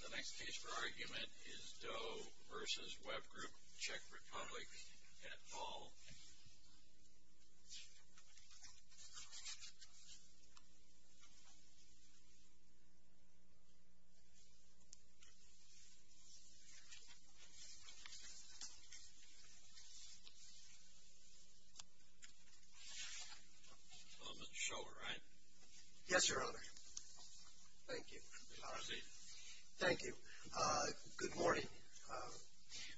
The next case for argument is Doe v. WebGroup Czech Republic at Ball. Mr. Shower, right? Yes, Your Honor. Thank you. Proceed. Thank you. Good morning.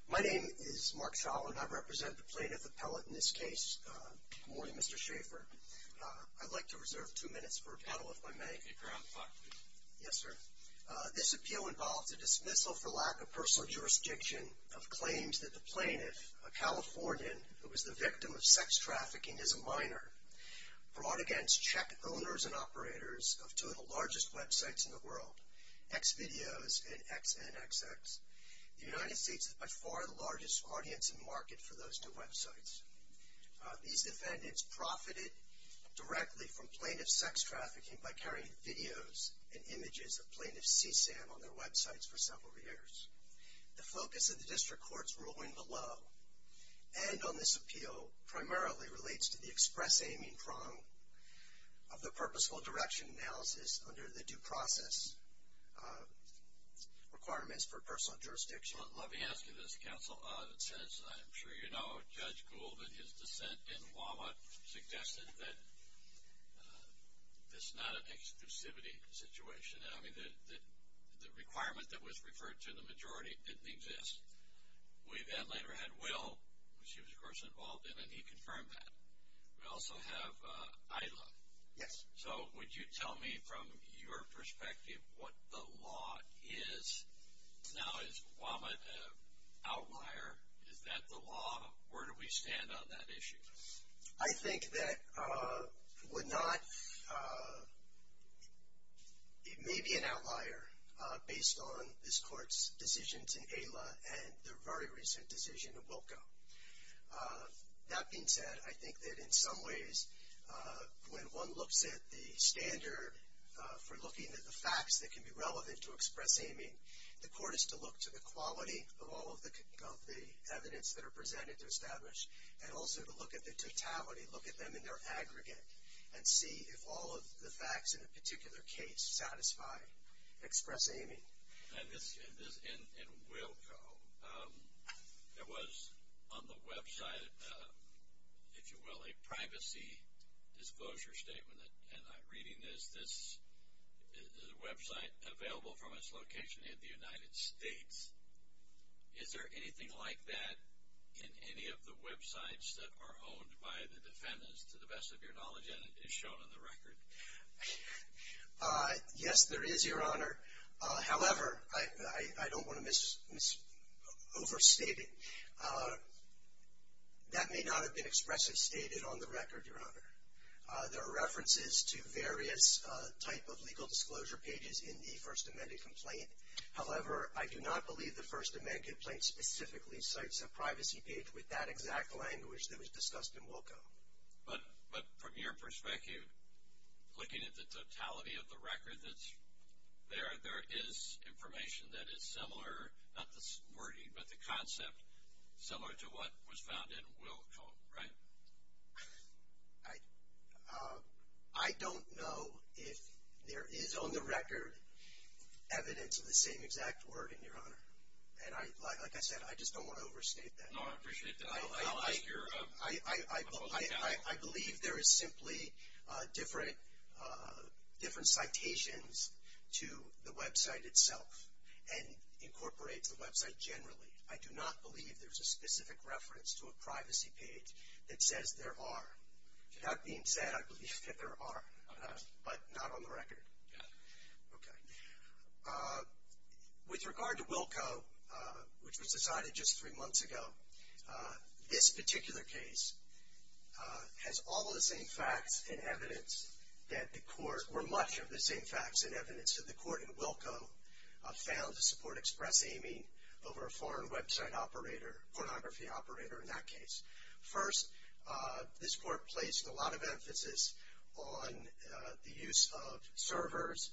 My name is Mark Shower, and I represent the plaintiff appellate in this case. Good morning, Mr. Schaffer. I'd like to reserve two minutes for a panel if I may. You may kick around the clock, please. Yes, sir. This appeal involves a dismissal for lack of personal jurisdiction of claims that the plaintiff, a Californian who was the victim of sex trafficking as a minor, brought against Czech owners and operators of two of the largest websites in the world, Xvideos and XNXX. The United States is by far the largest audience and market for those two websites. These defendants profited directly from plaintiff's sex trafficking by carrying videos and images of plaintiff's CSAM on their websites for several years. The focus of the district court's ruling below and on this appeal primarily relates to the express-aiming prong of the purposeful direction analysis under the due process requirements for personal jurisdiction. Let me ask you this, counsel. It says, I'm sure you know, Judge Gould, in his dissent in Walnut, suggested that this is not an exclusivity situation. I mean, the requirement that was referred to in the majority didn't exist. We then later had Will, who she was, of course, involved in, and he confirmed that. We also have Ayla. Yes. So would you tell me, from your perspective, what the law is now? Is Walnut an outlier? Is that the law? Where do we stand on that issue? I think that Walnut may be an outlier based on this court's decision to Ayla and the very recent decision to Wilko. That being said, I think that in some ways, when one looks at the standard for looking at the facts that can be relevant to express-aiming, the court is to look to the quality of all of the evidence that are presented to establish, and also to look at the totality, look at them in their aggregate, and see if all of the facts in a particular case satisfy express-aiming. And this, in Wilko, there was on the website, if you will, a privacy disclosure statement, and I'm reading this, this is a website available from its location in the United States. Is there anything like that in any of the websites that are owned by the defendants, to the best of your knowledge, and is shown on the record? Yes, there is, Your Honor. However, I don't want to overstate it. That may not have been expressly stated on the record, Your Honor. There are references to various type of legal disclosure pages in the First Amendment complaint. However, I do not believe the First Amendment complaint specifically cites a privacy page with that exact language that was discussed in Wilko. But from your perspective, looking at the totality of the record that's there, there is information that is similar, not the wording, but the concept, similar to what was found in Wilko, right? I don't know if there is, on the record, evidence of the same exact wording, Your Honor. And like I said, I just don't want to overstate that. No, I appreciate that. I'll ask your public panel. I believe there is simply different citations to the website itself, and incorporates the website generally. I do not believe there's a specific reference to a privacy page that says there are. That being said, I believe that there are, but not on the record. Okay. With regard to Wilko, which was decided just three months ago, this particular case has all of the same facts and evidence that the court, in Wilko, found to support express aiming over a foreign website operator, pornography operator in that case. First, this court placed a lot of emphasis on the use of servers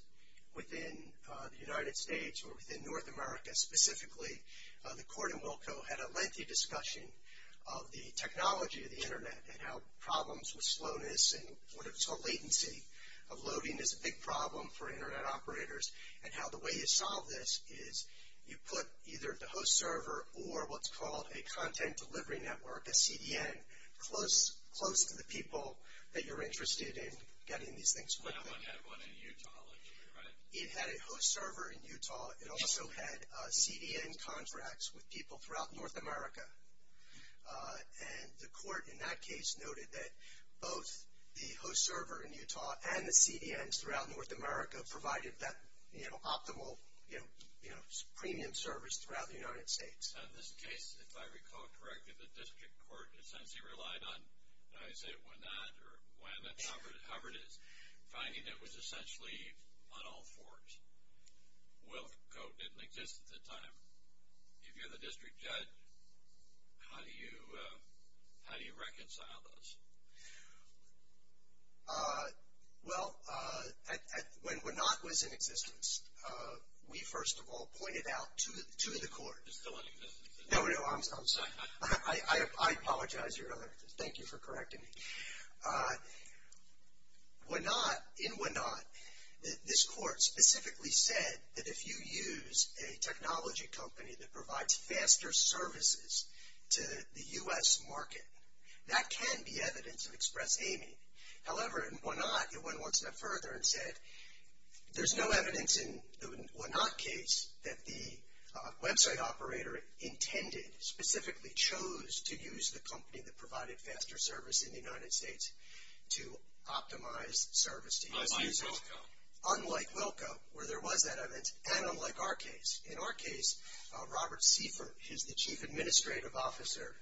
within the United States or within North America. Specifically, the court in Wilko had a lengthy discussion of the technology of the Internet and how problems with slowness and what is called latency of loading is a big problem for Internet operators, and how the way you solve this is you put either the host server or what's called a content delivery network, a CDN, close to the people that you're interested in getting these things working. That one had one in Utah, right? It had a host server in Utah. It also had CDN contracts with people throughout North America. And the court in that case noted that both the host server in Utah and the CDNs throughout North America provided that, you know, optimal, you know, premium service throughout the United States. In this case, if I recall correctly, the district court essentially relied on, I say it when not or when, but however it is, finding it was essentially on all fours. Wilko didn't exist at the time. If you're the district judge, how do you reconcile those? Well, when WANOT was in existence, we first of all pointed out to the court. It's still in existence. No, no, I'm sorry. I apologize, Your Honor. Thank you for correcting me. WANOT, in WANOT, this court specifically said that if you use a technology company that provides faster services to the U.S. market, that can be evidence of express aiming. However, in WANOT, it went one step further and said there's no evidence in the WANOT case that the website operator intended, specifically chose to use the company that provided faster service in the United States to optimize service to U.S. users. Unlike Wilko, where there was that evidence, and unlike our case. In our case, Robert Seifer, who's the chief administrative officer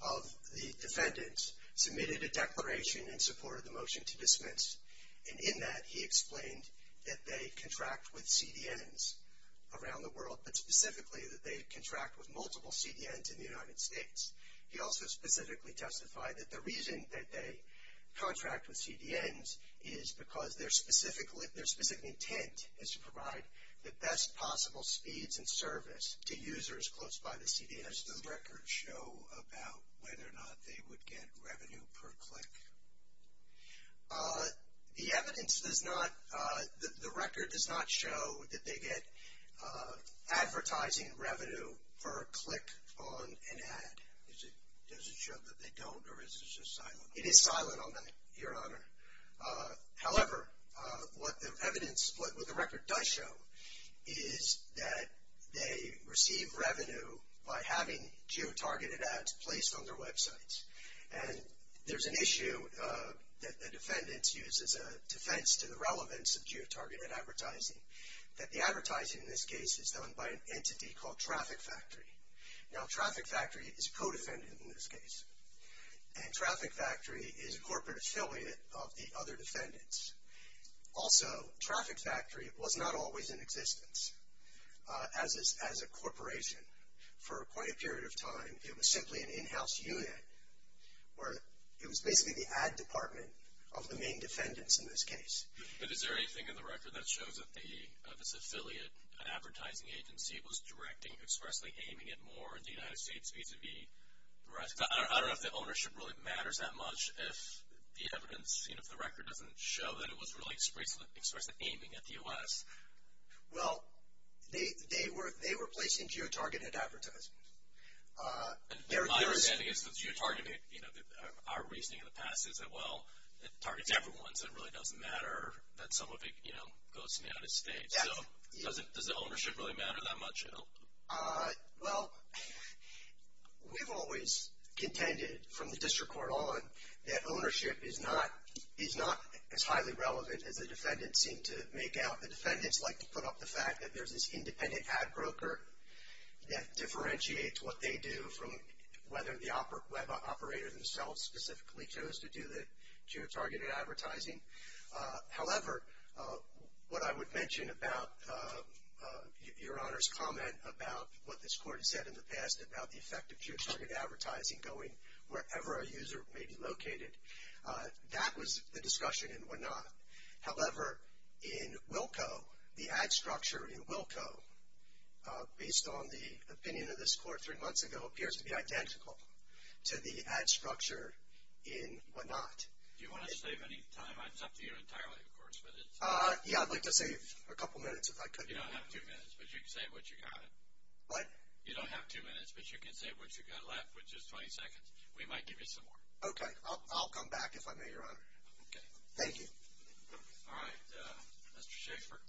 of the defendants, submitted a declaration in support of the motion to dismiss. And in that, he explained that they contract with CDNs around the world, but specifically that they contract with multiple CDNs in the United States. He also specifically testified that the reason that they contract with CDNs is because their specific intent is to provide the best possible speeds and service to users close by the CDN. Does the record show about whether or not they would get revenue per click? The evidence does not, the record does not show that they get advertising revenue per click on an ad. Does it show that they don't, or is it just silent? It is silent on that, your honor. However, what the record does show is that they receive revenue by having geotargeted ads placed on their websites. And there's an issue that the defendants use as a defense to the relevance of geotargeted advertising, that the advertising in this case is done by an entity called Traffic Factory. Now, Traffic Factory is co-defendant in this case. And Traffic Factory is a corporate affiliate of the other defendants. Also, Traffic Factory was not always in existence as a corporation. For quite a period of time, it was simply an in-house unit, where it was basically the ad department of the main defendants in this case. But is there anything in the record that shows that this affiliate advertising agency was directing, expressly aiming at more the United States vis-a-vis the rest? I don't know if the ownership really matters that much if the evidence, if the record doesn't show that it was really expressly aiming at the U.S. Well, they were placing geotargeted advertisements. And my understanding is that geotargeted, you know, our reasoning in the past is that, well, it targets everyone. So it really doesn't matter that some of it, you know, goes to the United States. So does the ownership really matter that much at all? Well, we've always contended from the district court on that ownership is not as highly relevant as the defendants seem to make out. The defendants like to put up the fact that there's this independent ad broker that differentiates what they do from whether the web operator themselves specifically chose to do the geotargeted advertising. However, what I would mention about Your Honor's comment about what this court has said in the past about the effect of geotargeted advertising going wherever a user may be located, that was the discussion in Wenat. However, in Wilco, the ad structure in Wilco, based on the opinion of this court three months ago, appears to be identical to the ad structure in Wenat. Do you want to save any time? It's up to you entirely, of course. Yeah, I'd like to save a couple minutes if I could. You don't have two minutes, but you can save what you've got. What? You don't have two minutes, but you can save what you've got left, which is 20 seconds. We might give you some more. Okay. I'll come back if I may, Your Honor. Okay. Thank you. All right. Mr. Schaffer,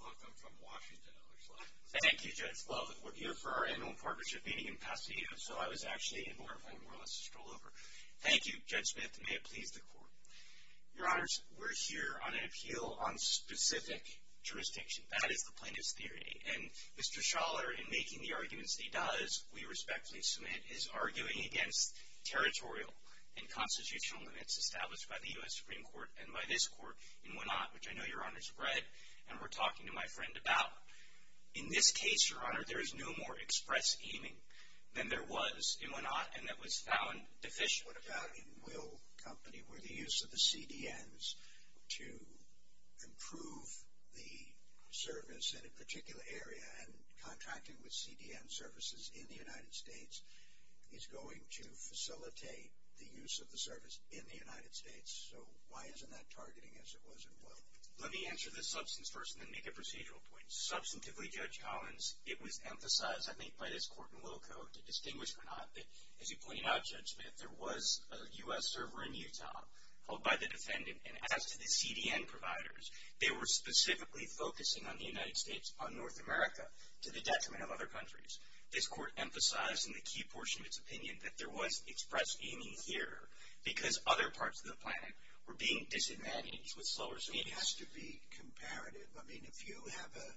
welcome from Washington, it looks like. Thank you, Judge. Well, we're here for our annual partnership meeting in Pasadena, so I was actually in Norfolk more or less to stroll over. Thank you, Judge Smith. May it please the Court. Your Honors, we're here on an appeal on specific jurisdiction. That is the plaintiff's theory, and Mr. Schaller, in making the arguments he does, we respectfully submit, is arguing against territorial and constitutional limits established by the U.S. Supreme Court and by this Court in Wenat, which I know Your Honors read and were talking to my friend about. In this case, Your Honor, there is no more express aiming than there was in Wenat, and that was found deficient. What about in Will Company, where the use of the CDNs to improve the service in a particular area and contracting with CDN services in the United States is going to facilitate the use of the service in the United States? So why isn't that targeting as it was in Will? Let me answer the substance first and then make a procedural point. Substantively, Judge Collins, it was emphasized, I think, by this Court in Willco, to distinguish from Wenat that, as you pointed out, Judge Smith, there was a U.S. server in Utah held by the defendant, and as to the CDN providers, they were specifically focusing on the United States, on North America, to the detriment of other countries. This Court emphasized in the key portion of its opinion that there was express aiming here because other parts of the planet were being disadvantaged with slower service. It has to be comparative. I mean, if you have a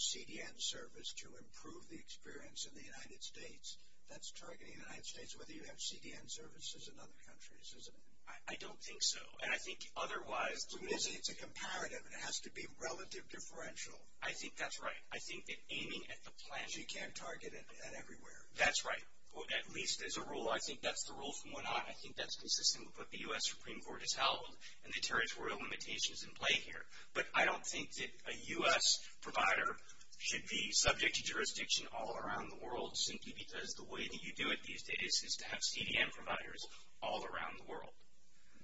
CDN service to improve the experience in the United States, that's targeting the United States, whether you have CDN services in other countries, isn't it? I don't think so. And I think otherwise, to me, it's a comparative and it has to be relative differential. I think that's right. I think that aiming at the planet... You can't target it at everywhere. That's right. At least as a rule. I think that's the rule from Wenat. I think that's consistent with what the U.S. Supreme Court has held and the territorial limitations in play here. But I don't think that a U.S. provider should be subject to jurisdiction all around the world simply because the way that you do it these days is to have CDN providers all around the world.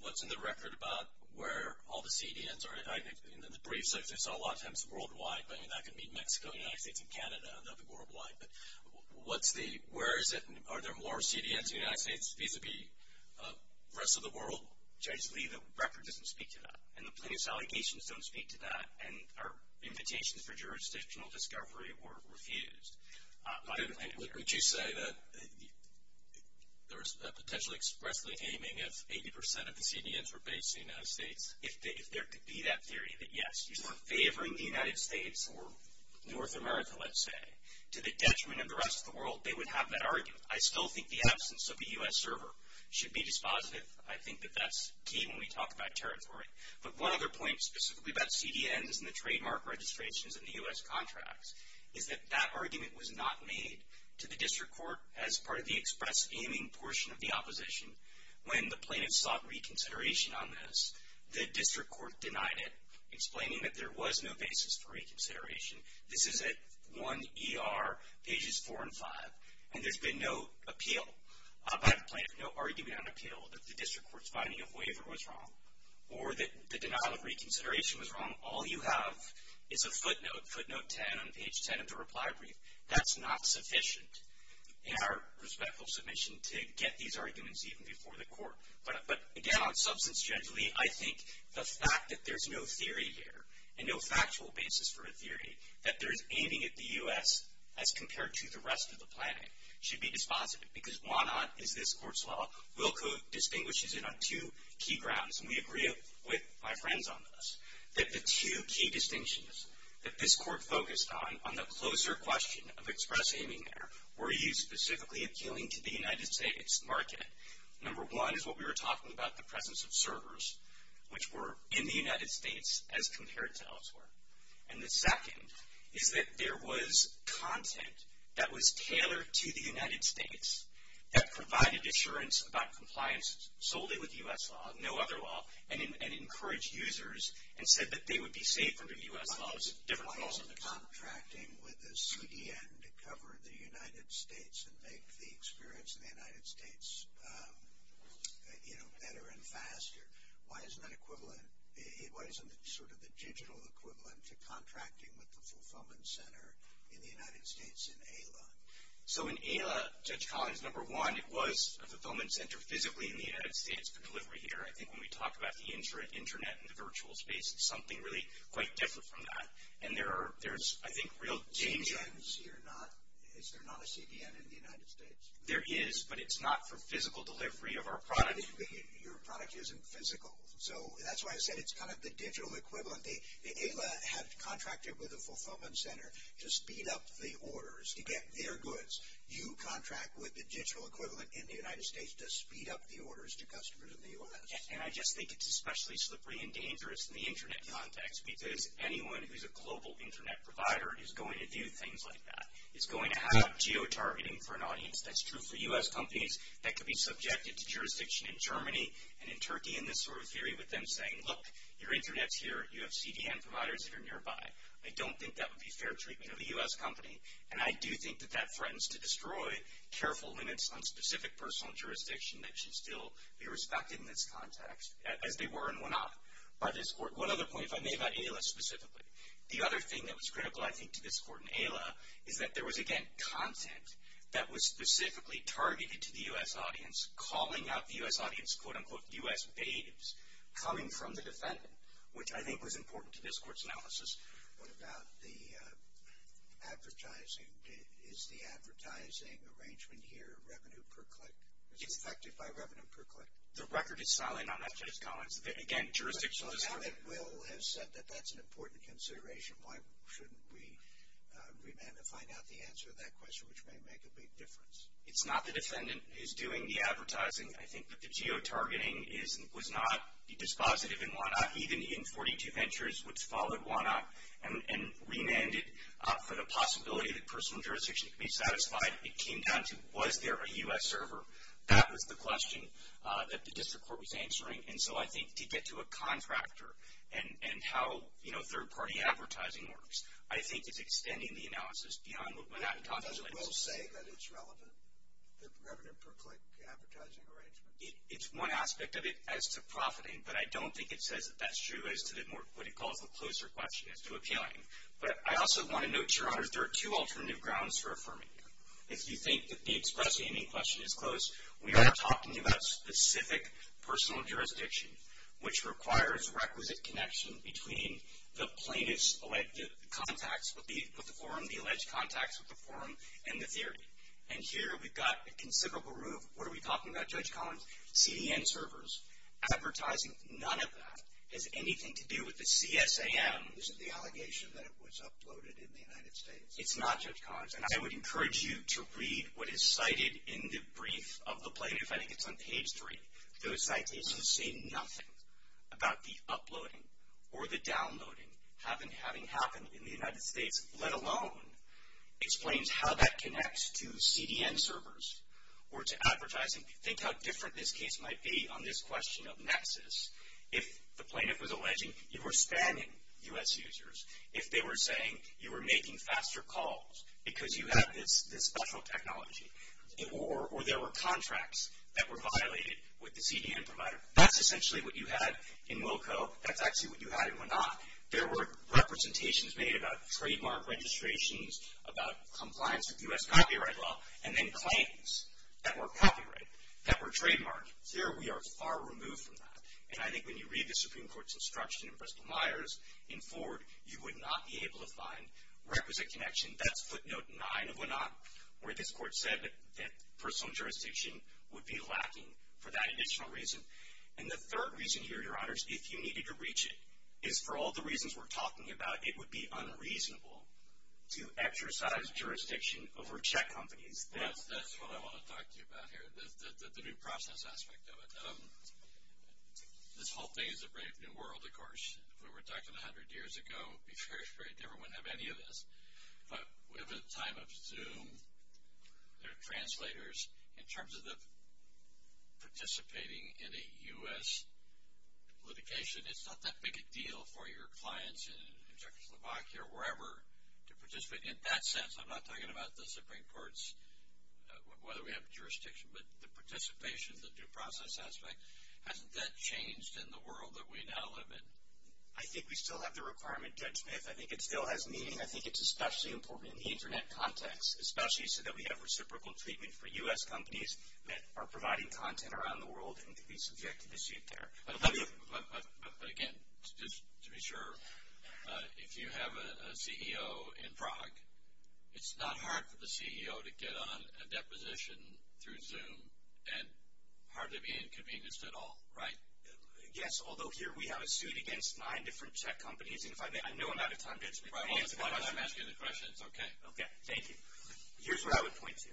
What's in the record about where all the CDNs are? I think in the briefs I saw a lot of times worldwide. I mean, that could be Mexico, the United States, and Canada. I know they're worldwide. But where is it? Are there more CDNs in the United States vis-a-vis the rest of the world? Judge Lee, the record doesn't speak to that. And the plaintiff's allegations don't speak to that. And our invitations for jurisdictional discovery were refused. Would you say that there is a potential expressly aiming if 80% of the CDNs were based in the United States? If there could be that theory that, yes, you're favoring the United States or North America, let's say, to the detriment of the rest of the world, they would have that argument. I still think the absence of a U.S. server should be dispositive. I think that that's key when we talk about territory. But one other point specifically about CDNs and the trademark registrations and the U.S. contracts is that that argument was not made to the district court as part of the express aiming portion of the opposition. When the plaintiff sought reconsideration on this, the district court denied it, explaining that there was no basis for reconsideration. This is at 1ER, pages 4 and 5. And there's been no appeal by the plaintiff, no argument on appeal, that the district court's finding of waiver was wrong or that the denial of reconsideration was wrong. All you have is a footnote, footnote 10 on page 10 of the reply brief. That's not sufficient in our respectful submission to get these arguments even before the court. But, again, on substance generally, I think the fact that there's no theory here and no factual basis for a theory that there's aiming at the U.S. as compared to the rest of the planet should be dispositive because why not is this court's law. Wilco distinguishes it on two key grounds, and we agree with my friends on this, that the two key distinctions that this court focused on, on the closer question of express aiming there, were used specifically appealing to the United States market. Number one is what we were talking about, the presence of servers, which were in the United States as compared to elsewhere. And the second is that there was content that was tailored to the United States that provided assurance about compliance solely with U.S. law, no other law, and encouraged users and said that they would be safe under U.S. laws, different laws. Why isn't contracting with a CDN to cover the United States and make the experience in the United States, you know, better and faster? Why isn't that equivalent, why isn't it sort of the digital equivalent to contracting with the fulfillment center in the United States in ALA? So in ALA, Judge Collins, number one, it was a fulfillment center physically in the United States for delivery here. I think when we talk about the internet and the virtual space, it's something really quite different from that. And there's, I think, real changes. Is there not a CDN in the United States? There is, but it's not for physical delivery of our product. Your product isn't physical. So that's why I said it's kind of the digital equivalent. ALA has contracted with a fulfillment center to speed up the orders to get their goods. You contract with the digital equivalent in the United States to speed up the orders to customers in the U.S. And I just think it's especially slippery and dangerous in the internet context because anyone who's a global internet provider is going to do things like that. It's going to have geo-targeting for an audience. That's true for U.S. companies that could be subjected to jurisdiction in Germany and in Turkey and this sort of theory with them saying, look, your internet's here. You have CDN providers that are nearby. I don't think that would be fair treatment of a U.S. company. And I do think that that threatens to destroy careful limits on specific personal jurisdiction that should still be respected in this context, as they were and will not by this court. One other point, if I may, about ALA specifically. The other thing that was critical, I think, to this court in ALA is that there was, again, content that was specifically targeted to the U.S. audience, calling out the U.S. audience, quote, unquote, U.S. natives, coming from the defendant, which I think was important to this court's analysis. What about the advertising? Is the advertising arrangement here revenue per click? Is it affected by revenue per click? The record is silent on that, Judge Collins. Again, jurisdiction is. So now that Will has said that that's an important consideration, why shouldn't we remand and find out the answer to that question, which may make a big difference? It's not the defendant who's doing the advertising. I think that the geotargeting was not dispositive in WANOP, even in 42 Ventures, which followed WANOP, and remanded for the possibility that personal jurisdiction could be satisfied. It came down to, was there a U.S. server? That was the question that the district court was answering. And so I think to get to a contractor and how, you know, third-party advertising works, I think it's extending the analysis beyond what WANOP talks about. Does Will say that it's relevant, the revenue per click advertising arrangement? It's one aspect of it as to profiting, but I don't think it says that that's true as to what it calls the closer question as to appealing. But I also want to note, Your Honors, there are two alternative grounds for affirming it. If you think that the express-aiming question is close, we are talking about specific personal jurisdiction, which requires requisite connection between the plaintiff's contacts with the forum, the alleged contacts with the forum, and the theory. And here we've got a considerable room. What are we talking about, Judge Collins? CDN servers. Advertising, none of that has anything to do with the CSAM. Isn't the allegation that it was uploaded in the United States? It's not, Judge Collins. And I would encourage you to read what is cited in the brief of the plaintiff. I think it's on page 3. Those citations say nothing about the uploading or the downloading having happened in the United States, let alone explains how that connects to CDN servers or to advertising. Think how different this case might be on this question of nexus. If the plaintiff was alleging you were spamming U.S. users, if they were saying you were making faster calls because you have this special technology, or there were contracts that were violated with the CDN provider, that's essentially what you had in Wilco. That's actually what you had in Wenat. There were representations made about trademark registrations, about compliance with U.S. copyright law, and then claims that were copyright, that were trademarked. Here we are far removed from that. And I think when you read the Supreme Court's instruction in Bristol-Myers, in Ford, you would not be able to find requisite connection. That's footnote 9 of Wenat, where this court said that personal jurisdiction would be lacking for that additional reason. And the third reason here, Your Honors, if you needed to reach it, is for all the reasons we're talking about, it would be unreasonable to exercise jurisdiction over check companies. That's what I want to talk to you about here, the due process aspect of it. This whole thing is a brave new world, of course. If we were talking 100 years ago, it would be very, very different. We wouldn't have any of this. But we have a time of Zoom, there are translators. In terms of participating in a U.S. litigation, it's not that big a deal for your clients in Czechoslovakia or wherever to participate. In that sense, I'm not talking about the Supreme Court's, whether we have jurisdiction, but the participation, the due process aspect, hasn't that changed in the world that we now live in? I think we still have the requirement, Judge Smith. I think it still has meaning. I think it's especially important in the Internet context, especially so that we have reciprocal treatment for U.S. companies that are providing content around the world and can be subjected to seat there. But again, just to be sure, if you have a CEO in Prague, it's not hard for the CEO to get on a deposition through Zoom and hardly be inconvenienced at all, right? Yes, although here we have a suit against nine different Czech companies, and I know I'm out of time, Judge Smith. I'm asking the questions, okay. Okay, thank you. Here's what I would point to.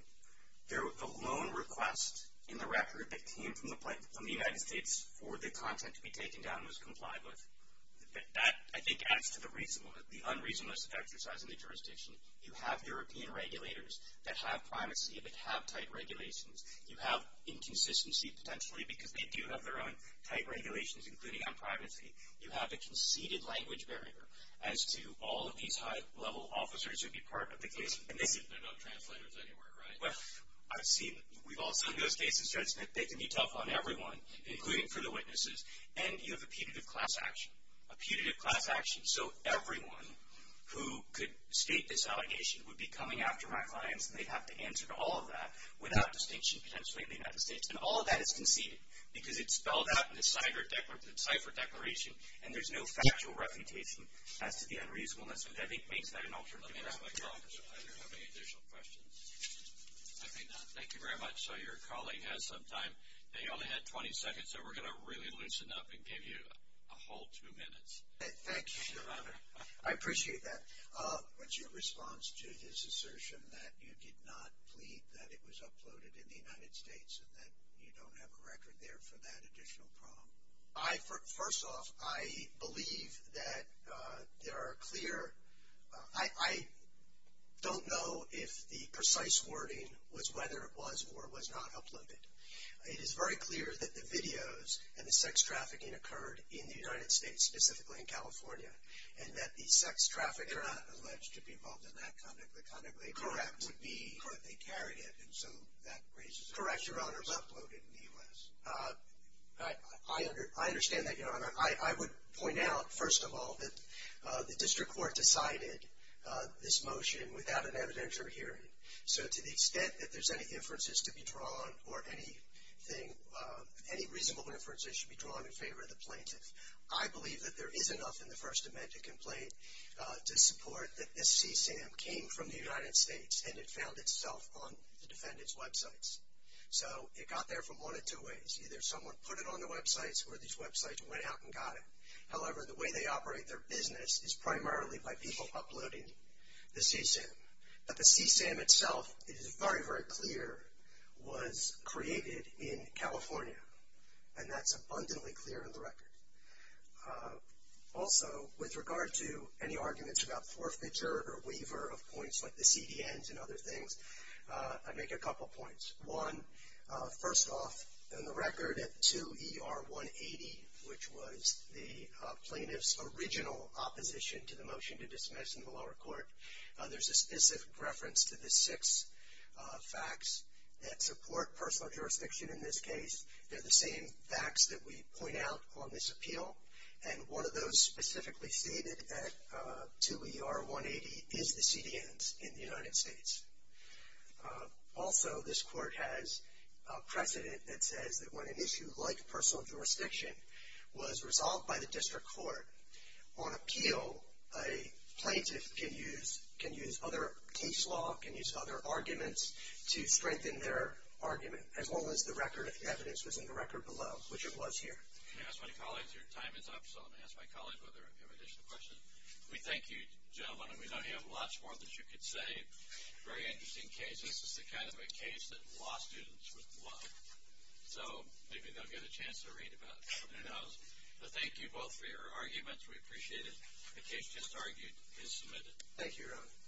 The loan request in the record that came from the United States for the content to be taken down was complied with. That, I think, adds to the unreasonableness of exercising the jurisdiction. You have European regulators that have privacy, that have tight regulations. You have inconsistency, potentially, because they do have their own tight regulations, including on privacy. You have a conceded language barrier as to all of these high-level officers who'd be part of the case. They're not translators anywhere, right? Well, I've seen them. We've all seen those cases, Judge Smith. They can be tough on everyone, including for the witnesses. And you have a punitive class action, a punitive class action. So everyone who could state this allegation would be coming after my clients, and they'd have to answer to all of that without distinction, potentially, in the United States. And all of that is conceded because it's spelled out in the CIFRA declaration, and there's no factual refutation as to the unreasonableness of it. I think that makes that an alternative. I don't have any additional questions. I may not. Thank you very much. So your colleague has some time. He only had 20 seconds, so we're going to really loosen up and give you a whole two minutes. Thank you, Your Honor. I appreciate that. What's your response to his assertion that you did not plead that it was uploaded in the United States and that you don't have a record there for that additional problem? First off, I believe that there are clear – I don't know if the precise wording was whether it was or was not uploaded. It is very clear that the videos and the sex trafficking occurred in the United States, specifically in California, and that the sex trafficker – They're not alleged to be involved in that conduct. The conduct they carried would be that they carried it, and so that raises a question. Correct, Your Honor. It was uploaded in the U.S. I understand that, Your Honor. I would point out, first of all, that the district court decided this motion without an evidentiary hearing. So to the extent that there's any inferences to be drawn or any reasonable inferences should be drawn in favor of the plaintiff, I believe that there is enough in the First Amendment complaint to support that this CSAM came from the United States and it found itself on the defendant's websites. So it got there from one of two ways. Either someone put it on the websites or these websites went out and got it. However, the way they operate their business is primarily by people uploading the CSAM. But the CSAM itself, it is very, very clear, was created in California, and that's abundantly clear in the record. Also, with regard to any arguments about forfeiture or waiver of points like the CDNs and other things, I'd make a couple points. One, first off, in the record at 2ER180, which was the plaintiff's original opposition to the motion to dismiss in the lower court, there's a specific reference to the six facts that support personal jurisdiction in this case. They're the same facts that we point out on this appeal, and one of those specifically stated at 2ER180 is the CDNs in the United States. Also, this court has a precedent that says that when an issue like personal jurisdiction was resolved by the district court on appeal, a plaintiff can use other case law, can use other arguments to strengthen their argument, as long as the record of the evidence was in the record below, which it was here. If you ask my colleagues, your time is up, so I'm going to ask my colleagues whether they have additional questions. We thank you, gentlemen, and we don't have much more that you could say. Very interesting case. This is the kind of a case that law students would love. So maybe they'll get a chance to read about it. Who knows? But thank you both for your arguments. The case just argued is submitted. Thank you, Your Honor.